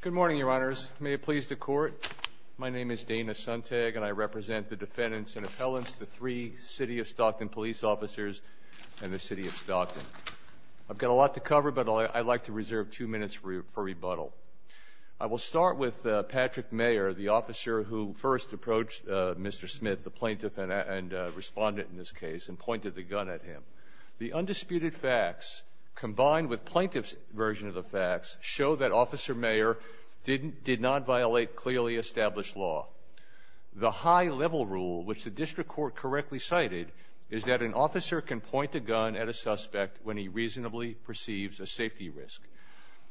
Good morning, Your Honors. May it please the Court, my name is Dana Suntag and I represent the defendants and appellants, the three City of Stockton police officers and the City of Stockton. I've got a lot to cover but I'd like to reserve two minutes for rebuttal. I will start with Patrick Mayer, the officer who first approached Mr. Smith, the plaintiff and respondent in this case, and pointed the gun at him. The undisputed facts combined with plaintiff's version of the facts show that Officer Mayer did not violate clearly established law. The high-level rule, which the district court correctly cited, is that an officer can point a gun at a suspect when he reasonably perceives a safety risk.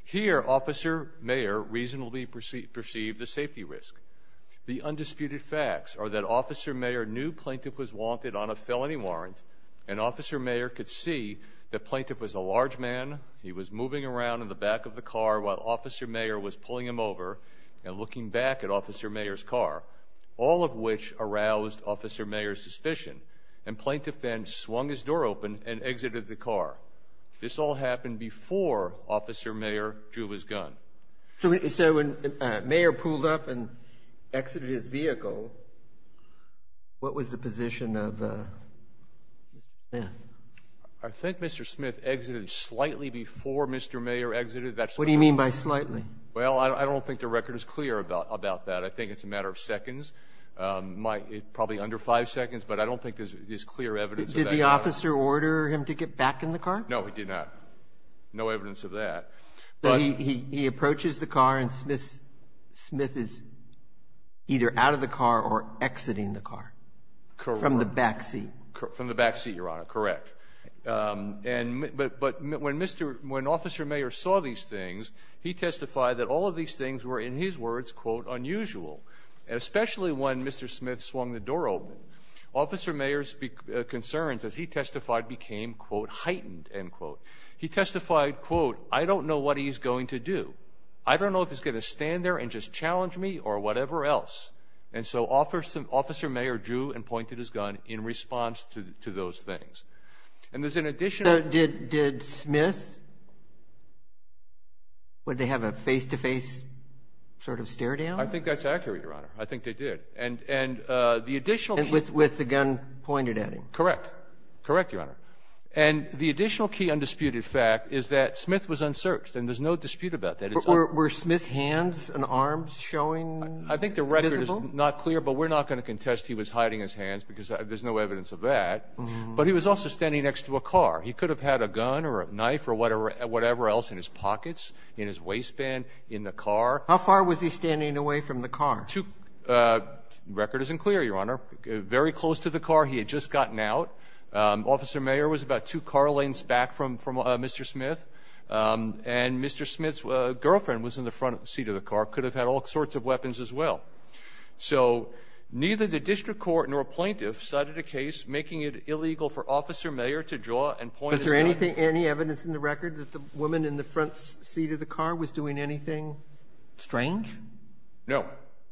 Here, Officer Mayer reasonably perceived the safety risk. The undisputed facts are that Officer Mayer knew plaintiff was wanted on a felony warrant and Officer Mayer could see that plaintiff was a around in the back of the car while Officer Mayer was pulling him over and looking back at Officer Mayer's car, all of which aroused Officer Mayer's suspicion, and plaintiff then swung his door open and exited the car. This all happened before Officer Mayer drew his gun. So when Mayor pulled up and exited his vehicle, what was the position of Mr. Smith? I think Mr. Smith exited slightly before Mr. Mayer exited. What do you mean by slightly? Well, I don't think the record is clear about that. I think it's a matter of seconds, probably under five seconds, but I don't think there's clear evidence. Did the officer order him to get back in the car? No, he did not. No evidence of that. He approaches the car and Smith is either out of the car or exiting the When Officer Mayer saw these things, he testified that all of these things were, in his words, quote, unusual, especially when Mr. Smith swung the door open. Officer Mayer's concerns, as he testified, became, quote, heightened, end quote. He testified, quote, I don't know what he's going to do. I don't know if he's going to stand there and just challenge me or whatever else. And so Officer Mayer drew and pointed his gun in response to those things. And there's an additional... So did Smith, would they have a face-to-face sort of stare down? I think that's accurate, Your Honor. I think they did. And the additional... With the gun pointed at him? Correct. Correct, Your Honor. And the additional key undisputed fact is that Smith was unsearched and there's no dispute about that. Were Smith's hands and arms showing? I think the record is not clear, but we're not going to contest he was hiding his hands because there's no evidence of that. But he was also standing next to a car. He could have had a gun or a knife or whatever else in his pockets, in his waistband, in the car. How far was he standing away from the car? Two. The record isn't clear, Your Honor. Very close to the car. He had just gotten out. Officer Mayer was about two car lanes back from Mr. Smith. And Mr. Smith's girlfriend was in the front seat of the car, could have had all sorts of weapons as well. So neither the district court nor a plaintiff cited a case making it illegal for Officer Mayer to draw and point his gun... But is there any evidence in the record that the woman in the front seat of the car was doing anything strange? No,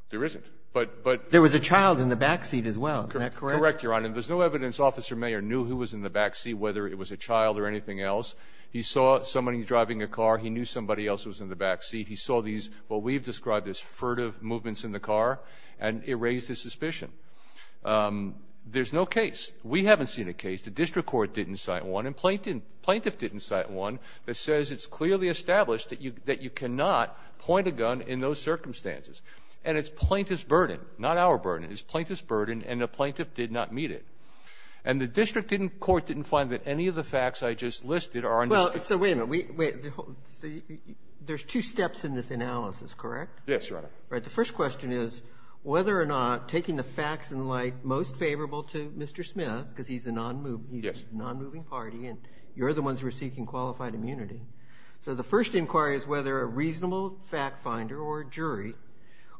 there isn't. But... There was a child in the back seat as well. Is that correct? Correct, Your Honor. And there's no evidence Officer Mayer knew who was in the back seat, whether it was a child or anything else. He saw somebody driving a car. He knew somebody else was in the back seat. He saw these, what we've described as furtive movements in the car, and it raised his suspicion. There's no case. We haven't seen a case. The district court didn't cite one. And plaintiff didn't cite one that says it's clearly established that you cannot point a gun in those circumstances. And it's plaintiff's burden, not our burden. It's plaintiff's burden, and the plaintiff did not meet it. And the district court didn't find that any of the facts I just listed are... Well, so wait a minute. Wait. So there's two steps in this analysis, correct? Yes, Your Honor. Right. The first question is whether or not taking the facts in light most favorable to Mr. Smith, because he's a non-moving party and you're the ones who are seeking qualified immunity. So the first inquiry is whether a reasonable fact finder or jury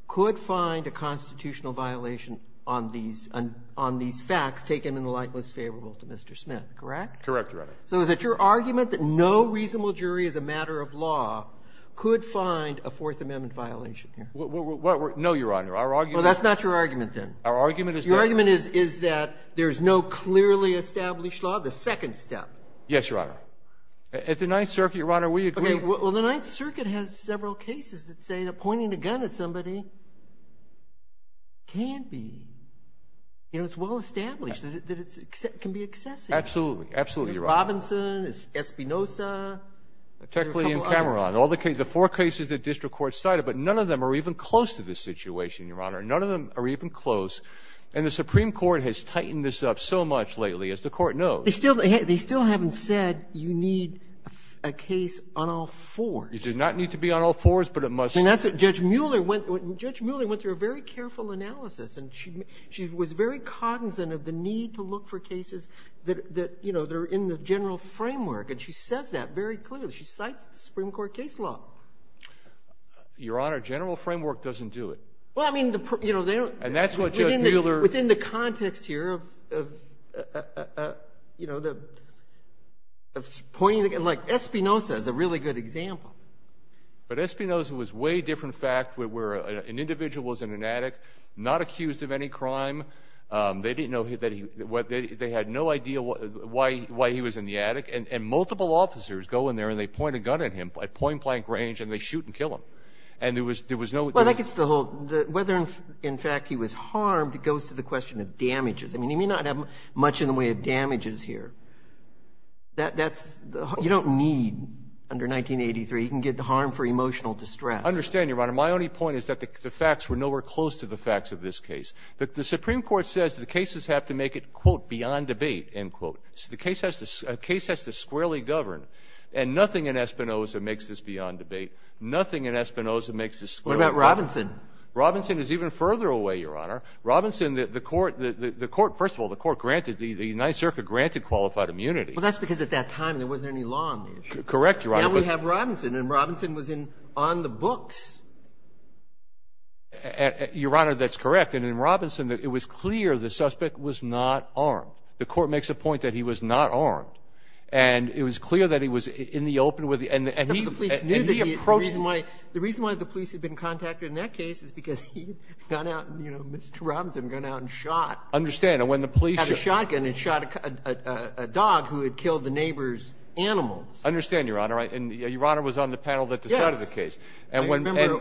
could find a constitutional violation on these facts taken in the light most favorable to Mr. Smith, correct? Correct, Your Honor. So is it your argument that no reasonable jury as a No, Your Honor. Our argument... Well, that's not your argument, then. Our argument is that... Your argument is that there's no clearly established law. The second step. Yes, Your Honor. At the Ninth Circuit, Your Honor, we agree... Okay. Well, the Ninth Circuit has several cases that say that pointing a gun at somebody can't be... You know, it's well established that it can be excessive. Absolutely. Absolutely, Your Honor. Robinson, Espinoza... Techley and Cameron. All the four cases the district court cited, but none of them are even close to this situation, Your Honor. None of them are even close, and the Supreme Court has tightened this up so much lately, as the Court knows. They still haven't said you need a case on all fours. You do not need to be on all fours, but it must... And that's what Judge Mueller went through a very careful analysis, and she was very cognizant of the need to look for cases that, you know, that are in the general framework, and she says that very clearly. She cites the Supreme Court case law. Your Honor, general framework doesn't do it. Well, I mean, you know, they don't... And that's what Judge Mueller... Within the context here of, you know, the... Like, Espinoza is a really good example. But Espinoza was a way different fact, where an individual was in an attic, not accused of any crime. They didn't know... They had no idea why he was in the attic, and multiple officers go in there, and they point a gun at him. I point a gun at him, and he's in a blank range, and they shoot and kill him. And there was no... Well, that gets to the whole... Whether, in fact, he was harmed goes to the question of damages. I mean, you may not have much in the way of damages here. That's... You don't need, under 1983, you can get the harm for emotional distress. I understand, Your Honor. My only point is that the facts were nowhere close to the facts of this case. But the Supreme Court says the cases have to make it, quote, beyond debate, end quote. So the case has to squarely govern, and nothing in Espinoza makes this beyond debate. Nothing in Espinoza makes this squarely... What about Robinson? Robinson is even further away, Your Honor. Robinson, the court... First of all, the court granted... The United Circuit granted qualified immunity. Well, that's because at that time, there wasn't any law on the issue. Correct, Your Honor. Now we have Robinson, and Robinson was in... on the books. Your Honor, that's correct. And in Robinson, it was clear the suspect was not armed. The court makes a point that he was not armed. And it was clear that he was in the open with the... But the police knew that he approached... The reason why the police had been contacted in that case is because he had gone out and, you know, Mr. Robinson had gone out and shot... I understand. And when the police... Had a shotgun and shot a dog who had killed the neighbor's animals. I understand, Your Honor. And Your Honor was on the panel that decided the case. Yes.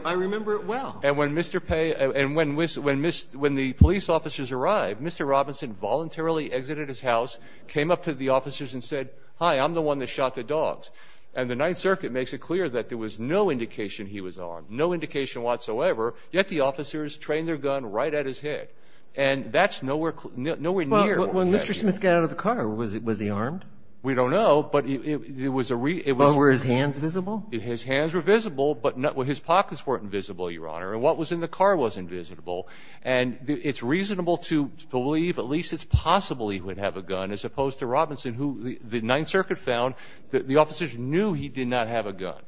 I remember it well. And when Mr. Pei and when the police officers arrived, Mr. Robinson voluntarily exited his house, came up to the officers and said, hi, I'm the one that shot the dog. And Mr. Robinson makes it clear that there was no indication he was armed, no indication whatsoever, yet the officers trained their gun right at his head. And that's nowhere... nowhere near... Well, when Mr. Smith got out of the car, was he armed? We don't know, but it was a... Well, were his hands visible? His hands were visible, but not... well, his pockets weren't visible, Your Honor. And what was in the car was invisible. And it's reasonable to believe, at least it's possible he would have a gun, as opposed to Robinson, who the Ninth Circuit found that the officers knew he did not have a gun.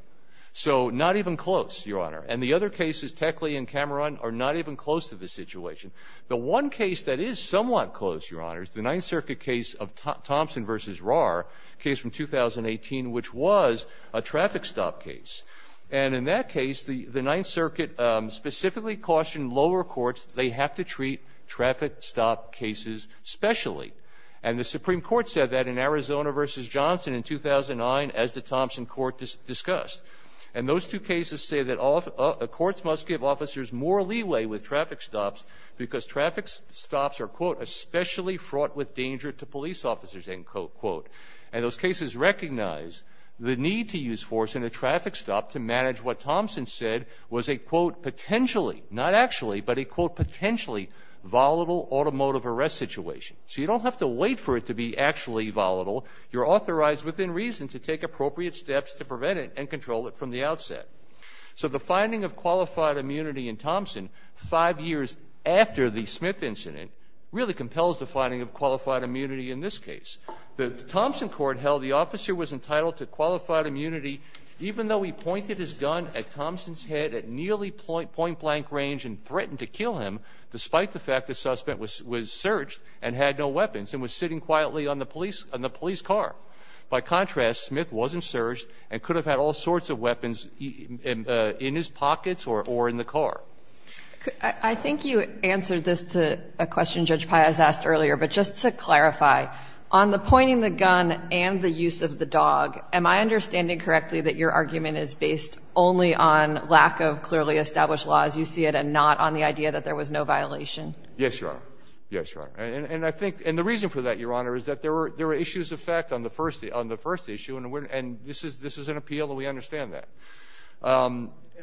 So not even close, Your Honor. And the other cases, Techley and Cameron, are not even close to this situation. The one case that is somewhat close, Your Honor, is the Ninth Circuit case of Thompson v. Rahr, case from 2018, which was a traffic stop case. And in that case, the Ninth Circuit specifically cautioned lower courts that they have to treat traffic stop cases specially. And the Supreme Court said that in Arizona v. Johnson in 2009, as the Thompson court discussed. And those two cases say that courts must give officers more leeway with traffic stops because traffic stops are, quote, especially fraught with danger to police officers, end quote, quote. And those cases recognize the need to use force in a traffic stop to manage what Thompson said was a, quote, potentially, not actually, but a, quote, potentially volatile automotive arrest situation. So you don't have to wait for it to be actually volatile. You're authorized within reason to take appropriate steps to prevent it and control it from the outset. So the finding of qualified immunity in Thompson five years after the Smith incident really compels the finding of qualified immunity in this case. The Thompson court held the officer was entitled to qualified immunity even though he pointed his gun at Thompson's head at nearly point-blank range and threatened to kill him despite the fact the suspect was surged and had no weapons and was sitting quietly on the police car. By contrast, Smith wasn't surged and could have had all sorts of weapons in his pockets or in the car. I think you answered this to a question Judge Pai has asked earlier. But just to clarify, on the pointing the gun and the use of the dog, am I understanding correctly that your argument is based only on lack of clearly established law as you see it and not on the idea that there was no violation? Yes, Your Honor. Yes, Your Honor. And the reason for that, Your Honor, is that there were issues of fact on the first issue, and this is an appeal and we understand that.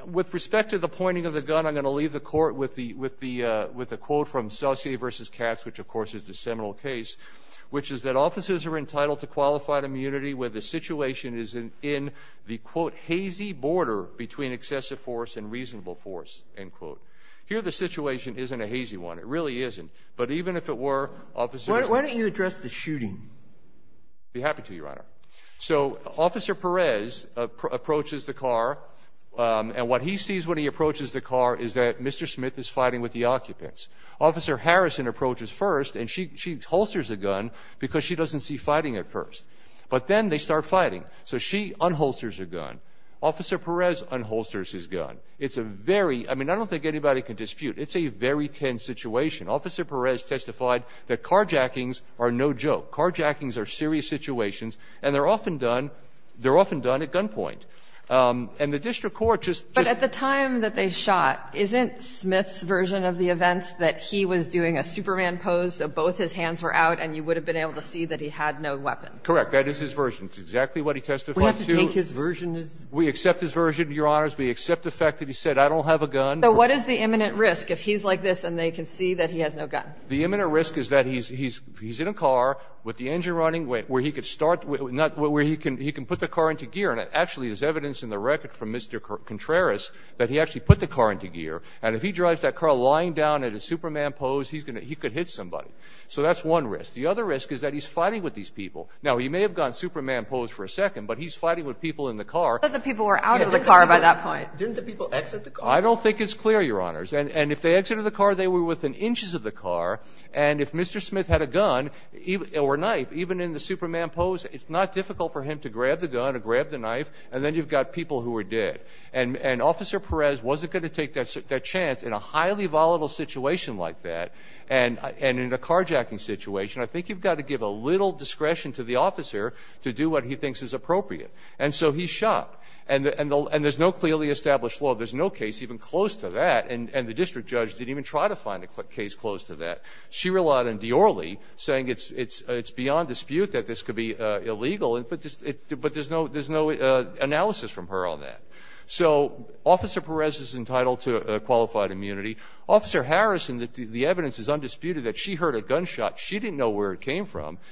With respect to the pointing of the gun, I'm going to leave the court with a quote from Sauci versus Katz, which of course is the seminal case, which is that officers are entitled to qualified immunity where the situation is in the, quote, hazy border between excessive force and reasonable force, end quote. Here the situation isn't a hazy one. It really isn't. But even if it were, officers... Why don't you address the shooting? I'd be happy to, Your Honor. So Officer Perez approaches the car, and what he sees when he approaches the car is that Mr. Smith is fighting with the occupants. Officer Harrison approaches first, and she holsters a gun because she doesn't see fighting at first. But then they start fighting. So she unholsters her gun. Officer Perez unholsters his gun. It's a very... I mean, I don't think anybody can dispute. It's a very tense situation. Officer Perez testified that carjackings are no joke. Carjackings are serious situations, and they're often done at gunpoint. And the district court just... But at the time that they shot, isn't Smith's version of the events that he was doing a Superman pose, so both his hands were out and you would have been able to see that he had no weapon? Correct. That is his version. It's exactly what he testified to. You don't have to take his version as... We accept his version, Your Honors. We accept the fact that he said, I don't have a gun. So what is the imminent risk if he's like this and they can see that he has no gun? The imminent risk is that he's in a car with the engine running, where he could start, where he can put the car into gear. And actually, there's evidence in the record from Mr. Contreras that he actually put the car into gear. And if he drives that car lying down in a Superman pose, he's going to hit somebody. So that's one risk. The other risk is that he's fighting with these people. Now, he may have gone Superman pose for a second, but he's fighting with people in the car. But the people were out of the car by that point. Didn't the people exit the car? I don't think it's clear, Your Honors. And if they exited the car, they were within inches of the car. And if Mr. Smith had a gun or knife, even in the Superman pose, it's not difficult for him to grab the gun or grab the knife. And then you've got people who were dead. And Officer Perez wasn't going to take that chance in a highly volatile situation like that. And in a carjacking situation, I think you've got to give a little discretion to the officer to do what he thinks is appropriate. And so he's shot. And there's no clearly established law. There's no case even close to that. And the district judge didn't even try to find a case close to that. She relied on Diorly saying it's beyond dispute that this could be illegal. But there's no analysis from her on that. So Officer Perez is entitled to qualified immunity. Officer Harrison, the evidence is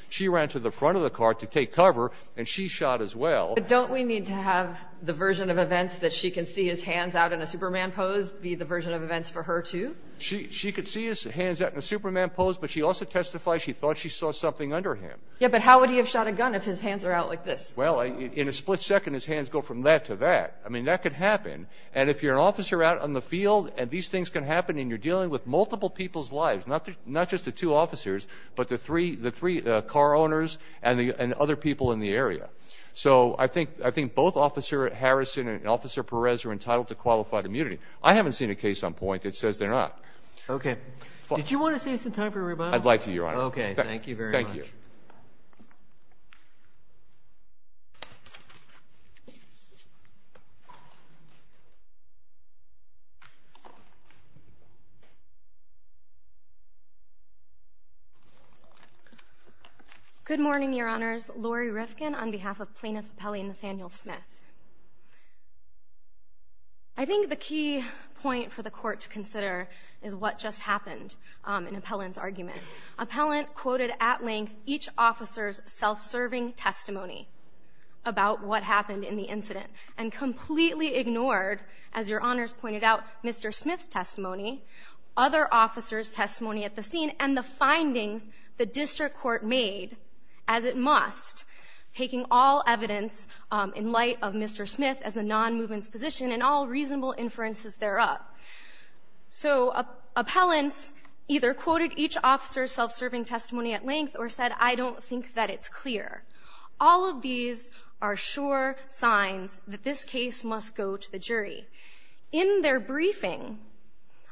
she ran to the front of the car to take cover and she shot as well. But don't we need to have the version of events that she can see his hands out in a Superman pose be the version of events for her too? She could see his hands out in a Superman pose, but she also testified she thought she saw something under him. Yeah, but how would he have shot a gun if his hands are out like this? Well, in a split second, his hands go from that to that. I mean, that could happen. And if you're an officer out on the field and these things can happen and you're dealing with multiple people's lives, not just the two officers, but the three car owners and other people in the area. So I think both Officer Harrison and Officer Perez are entitled to qualified immunity. I haven't seen a case on point that says they're not. Okay. Did you want to save some time for a rebuttal? I'd like to, Your Honor. Okay. Thank you very much. Good morning, Your Honors. Lori Rifkin on behalf of Plaintiff's Appellee Nathaniel Smith. I think the key point for the court to consider is what just happened in Appellant's argument. Appellant quoted at length each officer's self-serving testimony about what happened in the incident and completely ignored, as Your Honors pointed out, Mr. Smith's testimony, other officers' testimony at the scene, and the findings the district court made as it must, taking all evidence in light of Mr. Smith as a non-movement's position and all reasonable inferences thereof. So Appellant's either quoted each officer's self-serving testimony at length or said, I don't think that it's clear. All of these are sure signs that this case must go to the jury. In their briefing,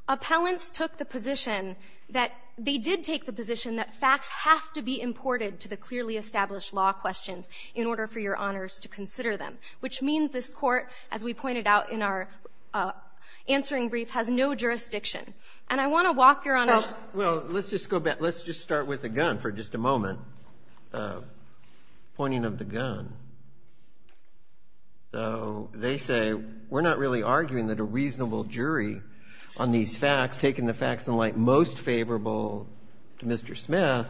Appellant's took the position that they did take the position that facts have to be imported to the clearly established law questions in order for Your Honors to consider them, which means this court, as we pointed out in our answering brief, has no jurisdiction. And I want to walk, Your Honors – Pointing of the gun. So they say, we're not really arguing that a reasonable jury on these facts, taking the facts in light most favorable to Mr. Smith,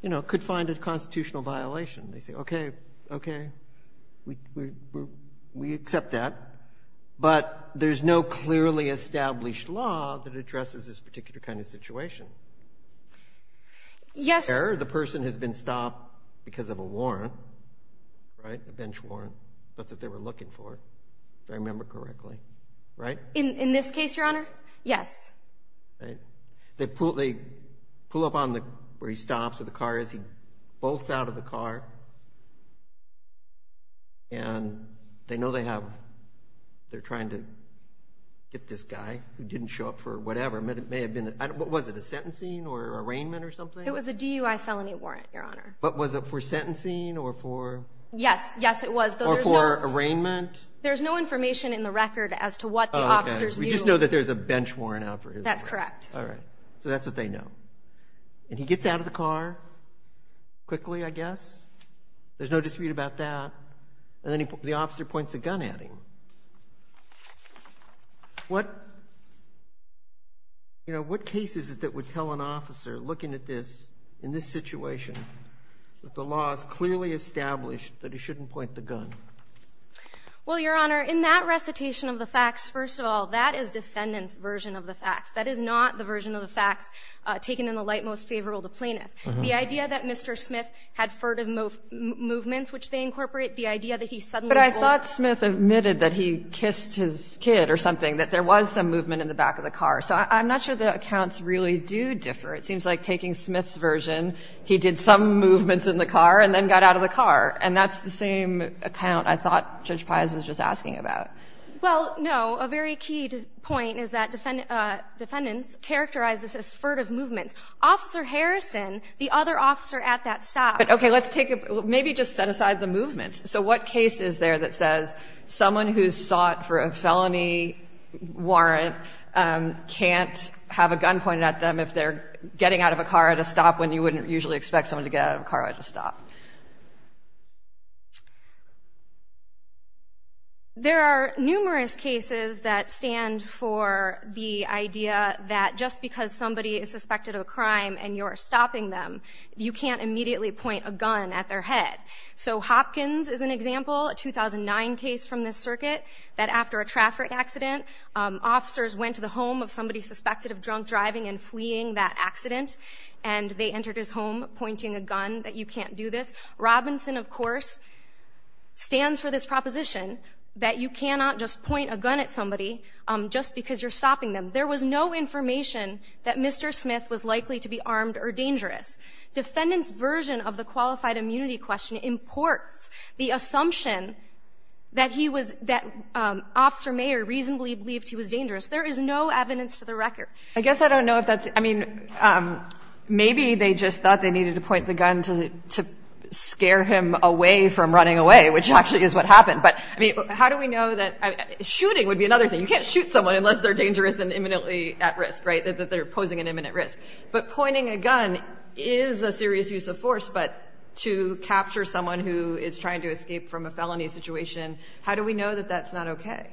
you know, could find a constitutional violation. They say, okay, okay, we accept that, but there's no clearly established law that addresses this particular kind of situation. Yes – Where the person has been stopped because of a warrant, right, a bench warrant. That's what they were looking for, if I remember correctly. Right? In this case, Your Honor, yes. They pull up on where he stops, where the car is, he bolts out of the car, and they know they have – they're trying to get this guy who didn't show up for whatever, it may have been – was it a sentencing or arraignment or something? It was a DUI felony warrant, Your Honor. But was it for sentencing or for – Yes. Yes, it was, though there's no – Or for arraignment? There's no information in the record as to what the officer's view – Oh, okay. We just know that there's a bench warrant out for his arrest. That's correct. All right. So that's what they know. And he gets out of the car quickly, I guess. There's no dispute about that. And then the officer points a gun at him. What – you know, what case is it that would tell an officer, looking at this, in this situation, that the law has clearly established that he shouldn't point the gun? Well, Your Honor, in that recitation of the facts, first of all, that is defendant's version of the facts. That is not the version of the facts taken in the light most favorable to plaintiff. The idea that Mr. Smith had furtive movements, which they incorporate, the idea that he suddenly – But I thought Smith admitted that he kissed his kid or something, that there was some I thought Judge Pius was just asking about. Well, no. A very key point is that defendants characterize this as furtive movements. Officer Harrison, the other officer at that stop – But, okay, let's take a – maybe just set aside the movements. So what case is there that says someone who's sought for a felony warrant can't have a gun, can't have a gun pointed at them if they're getting out of a car at a stop, when you wouldn't usually expect someone to get out of a car at a stop? There are numerous cases that stand for the idea that just because somebody is suspected of a crime and you're stopping them, you can't immediately point a gun at their head. So Hopkins is an example, a 2009 case from this circuit, that after a traffic accident, officers went to the home of somebody suspected of drunk driving and fleeing that accident, and they entered his home pointing a gun, that you can't do this. Robinson, of course, stands for this proposition that you cannot just point a gun at somebody just because you're stopping them. There was no information that Mr. Smith was likely to be armed or dangerous. Defendants' version of the qualified immunity question imports the assumption that he was that Officer Mayer reasonably believed he was dangerous. There is no evidence to the record. I guess I don't know if that's, I mean, maybe they just thought they needed to point the gun to scare him away from running away, which actually is what happened. But I mean, how do we know that, shooting would be another thing. You can't shoot someone unless they're dangerous and imminently at risk, right, that they're posing an imminent risk. But pointing a gun is a serious use of force, but to capture someone who is trying to escape from a felony situation, how do we know that that's not okay?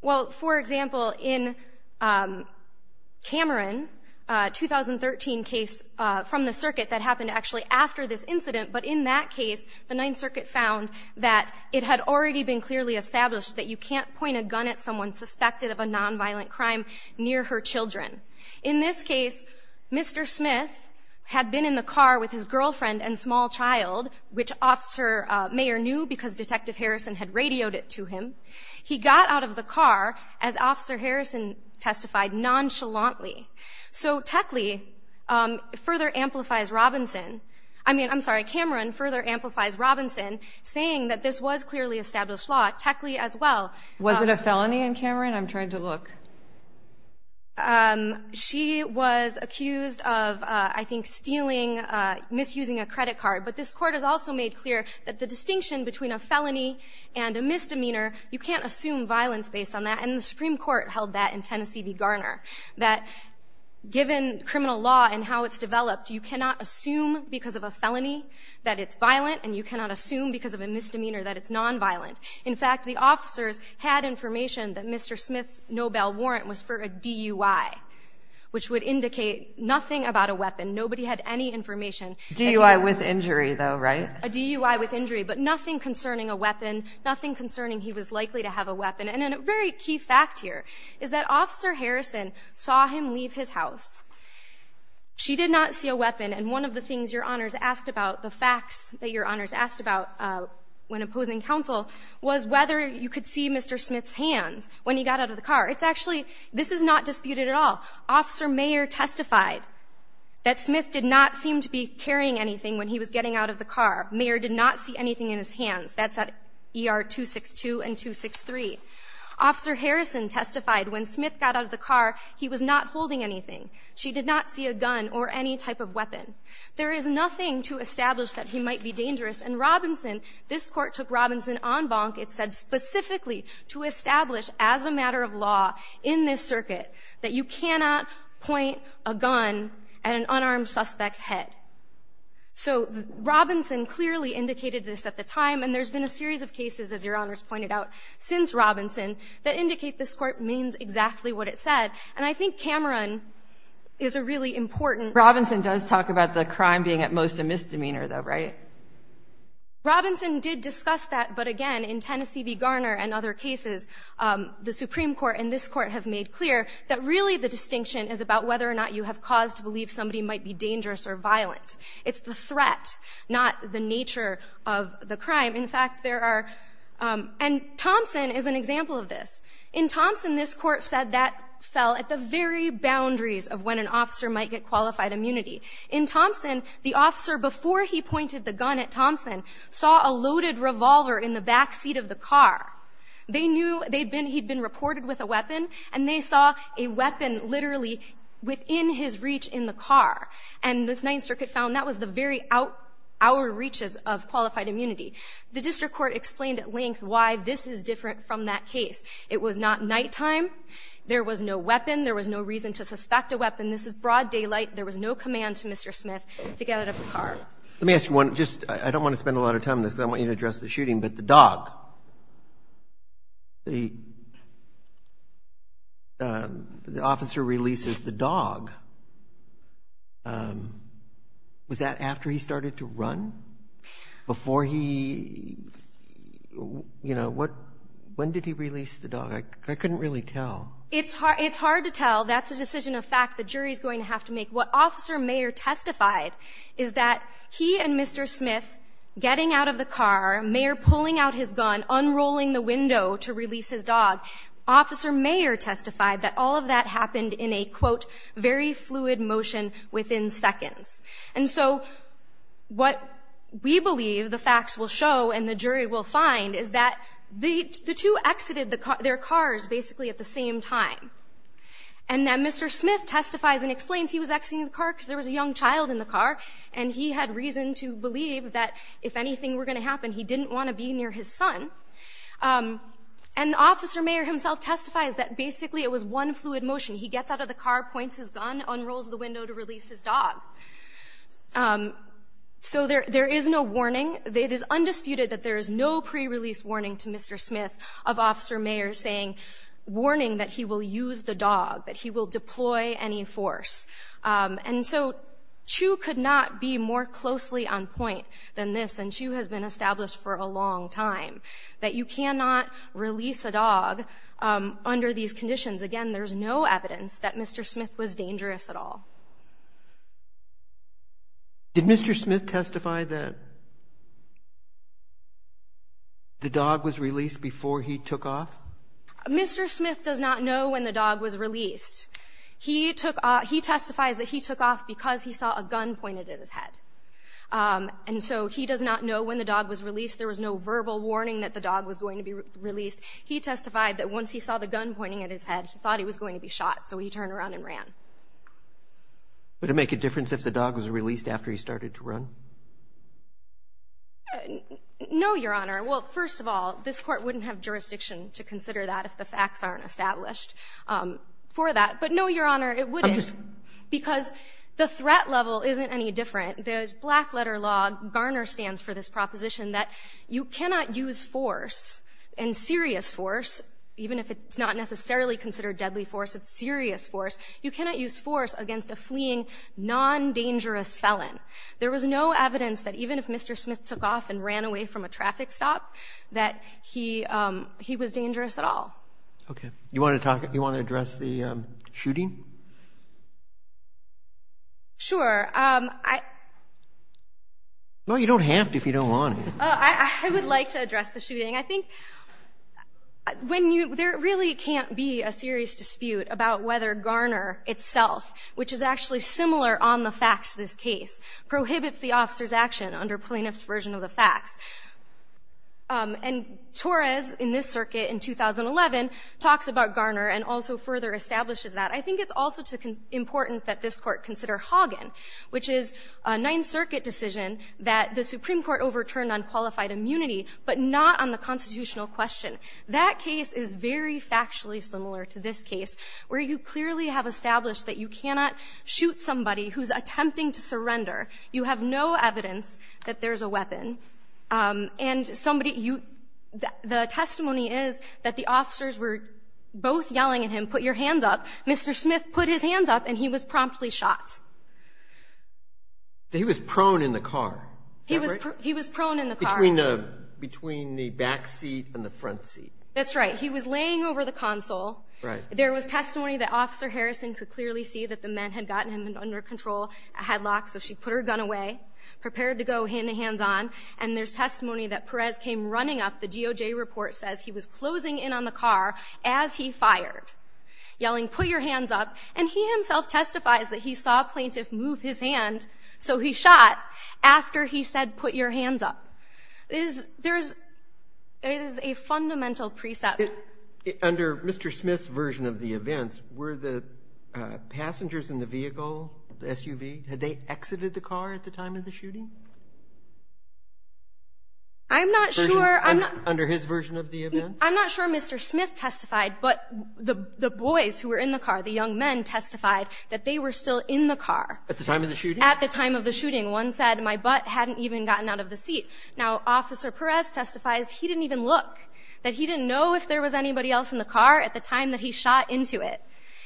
Well, for example, in Cameron, a 2013 case from the circuit that happened actually after this incident, but in that case, the Ninth Circuit found that it had already been clearly established that you can't point a gun at someone suspected of a nonviolent crime near her children. In this case, Mr. Smith had been in the car with his girlfriend and small child, which Officer Mayer knew because Detective Harrison had radioed it to him. He got out of the car as Officer Harrison testified nonchalantly. So Techley further amplifies Robinson. I mean, I'm sorry, Cameron further amplifies Robinson, saying that this was clearly established law. Techley as well. Was it a felony in Cameron? I'm trying to look. She was accused of, I think, stealing, misusing a credit card. But this court has also made clear that the distinction between a felony and a misdemeanor, you can't assume violence based on that, and the Supreme Court held that in Tennessee v. Garner, that given criminal law and how it's developed, you cannot assume because of a felony that it's violent, and you cannot assume because of a misdemeanor that it's nonviolent. In fact, the officers had information that Mr. Smith's Nobel warrant was for a DUI, which would indicate nothing about a weapon. Nobody had any information. DUI with injury, though, right? A DUI with injury, but nothing concerning a weapon, nothing concerning he was likely to have a weapon. And a very key fact here is that Officer Harrison saw him leave his house. She did not see a weapon, and one of the things your honors asked about, the facts that your honors asked about when opposing counsel was whether you could see Mr. Smith's hands when he got out of the car. It's actually, this is not disputed at all. Officer Mayer testified that Smith did not seem to be carrying anything when he was getting out of the car. Mayer did not see anything in his hands. That's at ER 262 and 263. Officer Harrison testified when Smith got out of the car he was not holding anything. There is nothing to establish that he might be dangerous. And Robinson, this Court took Robinson on bonk. It said specifically to establish as a matter of law in this circuit that you cannot point a gun at an unarmed suspect's head. So Robinson clearly indicated this at the time, and there's been a series of cases, as your honors pointed out, since Robinson, that indicate this Court means exactly what it said. And I think Cameron is a really important Robinson does talk about the crime being at most a misdemeanor, though, right? Robinson did discuss that, but again, in Tennessee v. Garner and other cases, the Supreme Court and this Court have made clear that really the distinction is about whether or not you have cause to believe somebody might be dangerous or violent. It's the threat, not the nature of the crime. In fact, there are, and Thompson is an example of this. In Thompson, this Court said that fell at the very boundaries of when an officer might get qualified immunity. In Thompson, the officer, before he pointed the gun at Thompson, saw a loaded revolver in the back seat of the car. They knew he'd been reported with a weapon, and they saw a weapon literally within his reach in the car. And the Ninth Circuit found that was the very outer reaches of qualified immunity. The District Court explained at length why this is different from that case. It was not nighttime. There was no weapon. There was no reason to suspect a weapon. This is broad daylight. There was no command to Mr. Smith to get out of the car. Let me ask you one, just, I don't want to spend a lot of time on this, because I want you to address the shooting, but the dog, the officer releases the dog, was that after he started to run? Before he, you know, what, when did he release the dog? I couldn't really tell. It's hard, it's hard to tell. That's a decision of fact. The jury's going to have to make. What Officer Mayer testified is that he and Mr. Smith getting out of the car, Mayer pulling out his gun, unrolling the window to release his dog, Officer Mayer testified that all of that happened in a, quote, very fluid motion within seconds. And so what we believe, the facts will show, and the jury will find, is that the two exited their cars basically at the same time. And then Mr. Smith testifies and explains he was exiting the car because there was a young child in the car, and he had reason to believe that if anything were going to happen, he didn't want to be near his son. And Officer Mayer himself testifies that basically it was one fluid motion. He gets out of the car, points his gun, unrolls the window to release his dog. So there is no warning. It is undisputed that there is no pre-release warning to Mr. Smith of Officer Mayer saying, warning that he will use the dog, that he will deploy any force. And so Chu could not be more closely on point than this, and Chu has been established for a long time, that you cannot release a dog under these conditions. Again, there's no evidence that Mr. Smith was dangerous at all. Did Mr. Smith testify that the dog was released before he took off? Mr. Smith does not know when the dog was released. He took off, he testifies that he took off because he saw a gun pointed at his head. And so he does not know when the dog was released. There was no verbal warning that the dog was going to be released. He testified that once he saw the gun pointing at his head, he thought he was going to be shot. So he turned around and ran. Would it make a difference if the dog was released after he started to run? No, Your Honor. Well, first of all, this Court wouldn't have jurisdiction to consider that if the facts aren't established for that. But no, Your Honor, it wouldn't. Because the threat level isn't any different. The black letter law, Garner stands for this You cannot use force, and serious force, even if it's not necessarily considered deadly force, it's serious force, you cannot use force against a fleeing, non-dangerous felon. There was no evidence that even if Mr. Smith took off and ran away from a traffic stop, that he was dangerous at all. Okay. Do you want to talk, do you want to address the shooting? Sure. I Well, you don't have to if you don't want to. I would like to address the shooting. I think when you, there really can't be a serious dispute about whether Garner itself, which is actually similar on the facts of this case, prohibits the officer's action under Plaintiff's version of the facts. And Torres, in this circuit in 2011, talks about Garner and also further establishes that. I think it's also important that this Court consider Hagen, which is, well, a Ninth Circuit decision that the Supreme Court overturned on qualified immunity, but not on the constitutional question. That case is very factually similar to this case, where you clearly have established that you cannot shoot somebody who's attempting to surrender. You have no evidence that there's a weapon. And somebody, you, the testimony is that the officers were both yelling at him, put your hands up. Mr. Smith put his hands up, and he was promptly shot. He was prone in the car, is that right? He was prone in the car. Between the back seat and the front seat. That's right. He was laying over the console. There was testimony that Officer Harrison could clearly see that the men had gotten him under control, had locks, so she put her gun away, prepared to go hands on. And there's testimony that Perez came running up, the GOJ report says he was closing in on the car as he fired, yelling put your hands up. And he himself testifies that he saw a plaintiff move his hand, so he shot after he said put your hands up. There is a fundamental precept. Under Mr. Smith's version of the events, were the passengers in the vehicle, the SUV, had they exited the car at the time of the shooting? I'm not sure. Under his version of the events? I'm not sure Mr. Smith testified, but the boys who were in the car, the young men testified that they were still in the car. At the time of the shooting? At the time of the shooting. One said my butt hadn't even gotten out of the seat. Now, Officer Perez testifies he didn't even look, that he didn't know if there was anybody else in the car at the time that he shot into it.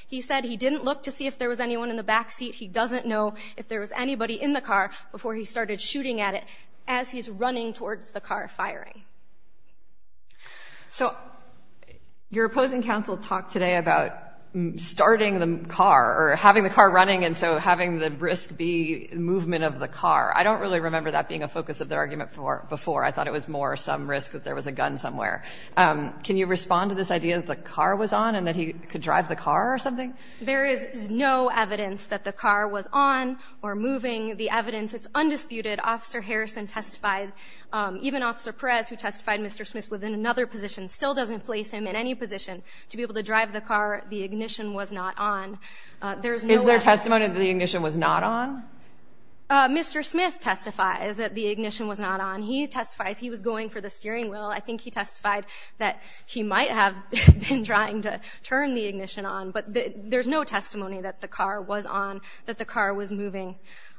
He said he didn't look to see if there was anyone in the back seat. He doesn't know if there was anybody in the car before he started shooting at it as he's running towards the car firing. So, your opposing counsel talked today about starting the car or having the car running and so having the risk be movement of the car. I don't really remember that being a focus of their argument before. I thought it was more some risk that there was a gun somewhere. Can you respond to this idea that the car was on and that he could drive the car or something? There is no evidence that the car was on or moving. The evidence, it's undisputed. Officer Perez, who testified Mr. Smith was in another position, still doesn't place him in any position to be able to drive the car. The ignition was not on. There is no evidence. Is there testimony that the ignition was not on? Mr. Smith testifies that the ignition was not on. He testifies he was going for the steering wheel. I think he testified that he might have been trying to turn the ignition on, but there's no testimony that the car was on, that the car was moving,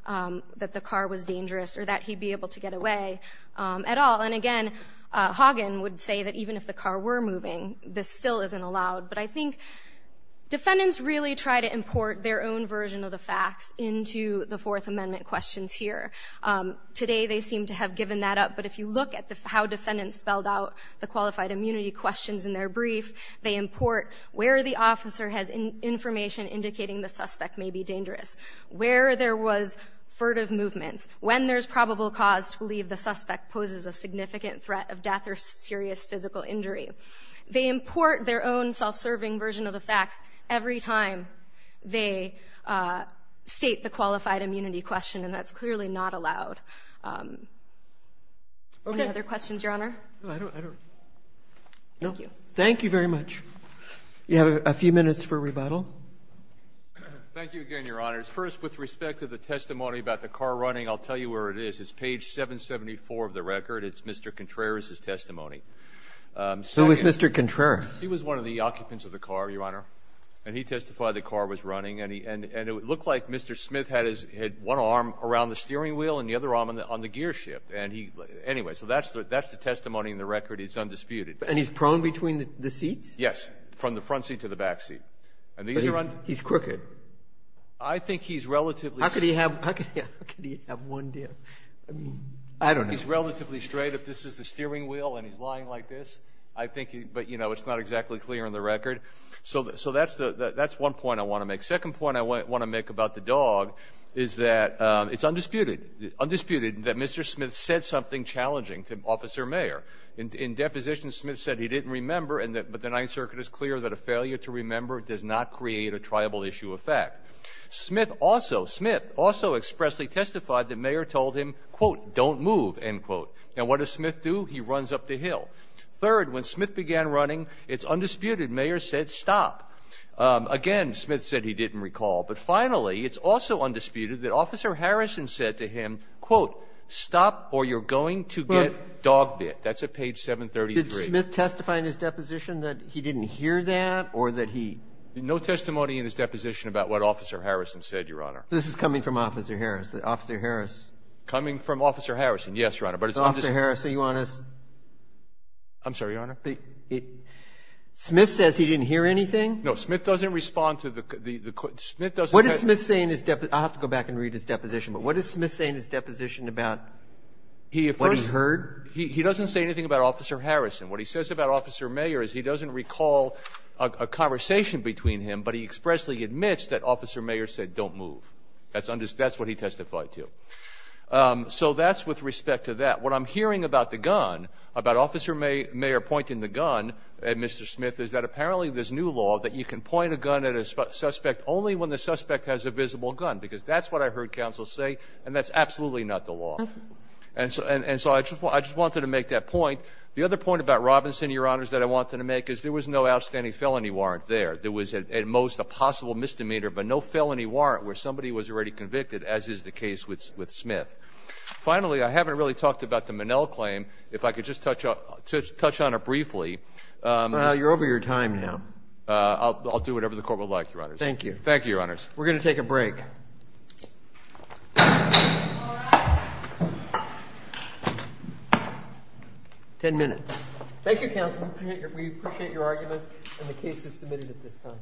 that the car was not able to get away at all. And again, Hagen would say that even if the car were moving, this still isn't allowed. But I think defendants really try to import their own version of the facts into the Fourth Amendment questions here. Today they seem to have given that up, but if you look at how defendants spelled out the qualified immunity questions in their brief, they import where the officer has information indicating the suspect may be dangerous, where there was furtive movements, when there's probable cause to believe the suspect poses a significant threat of death or serious physical injury. They import their own self-serving version of the facts every time they state the qualified immunity question, and that's clearly not allowed. Any other questions, Your Honor? No, I don't. Thank you. Thank you very much. You have a few minutes for rebuttal. Thank you again, Your Honor. First, with respect to the testimony about the car running, I'll tell you where it is. It's page 774 of the record. It's Mr. Contreras' testimony. So it's Mr. Contreras. He was one of the occupants of the car, Your Honor, and he testified the car was running. And it looked like Mr. Smith had his one arm around the steering wheel and the other arm on the gearshift. And he anyway, so that's the testimony in the record. It's undisputed. And he's prone between the seats? Yes, from the front seat to the back seat. He's crooked. I think he's relatively... How could he have one dip? I don't know. He's relatively straight if this is the steering wheel and he's lying like this. I think, but you know, it's not exactly clear in the record. So that's one point I want to make. Second point I want to make about the dog is that it's undisputed that Mr. Smith said something challenging to Officer Mayer. In deposition, Smith said he didn't remember, but the Ninth Circuit is clear that a failure to remember does not create a triable issue of fact. Smith also, Smith also expressly testified that Mayer told him, quote, don't move, end quote. Now what does Smith do? He runs up the hill. Third, when Smith began running, it's undisputed Mayer said stop. Again, Smith said he didn't recall. But finally, it's also undisputed that Officer Harrison said to him, quote, stop or you're going to get dog bit. That's at page 733. Breyer. Did Smith testify in his deposition that he didn't hear that or that he No testimony in his deposition about what Officer Harrison said, Your Honor. This is coming from Officer Harris, Officer Harris. Coming from Officer Harrison, yes, Your Honor. But it's Officer Harris, are you honest? I'm sorry, Your Honor. Smith says he didn't hear anything? No. Smith doesn't respond to the, the, the, Smith doesn't What is Smith saying in his deposition? I'll have to go back and read his deposition. But what is Smith saying in his deposition about what he heard? He doesn't say anything about Officer Harrison. What he says about Officer Mayer is he doesn't recall a conversation between him, but he expressly admits that Officer Mayer said don't move. That's what he testified to. So that's with respect to that. What I'm hearing about the gun, about Officer Mayer pointing the gun at Mr. Smith, is that apparently there's new law that you can point a gun at a suspect only when the suspect has a visible gun, because that's what I heard counsel say, and that's absolutely not the law. And so, and, and so I just want, I just wanted to make that point. The other point about Robinson, Your Honors, that I wanted to make is there was no outstanding felony warrant there. There was at, at most, a possible misdemeanor, but no felony warrant where somebody was already convicted, as is the case with, with Smith. Finally, I haven't really talked about the Minnell claim. If I could just touch up, touch, touch on it briefly. Well, you're over your time now. I'll, I'll do whatever the court would like, Your Honors. Thank you. Thank you, Your Honors. We're going to take a break. Ten minutes. Thank you, counsel. We appreciate your arguments, and the case is submitted at this time.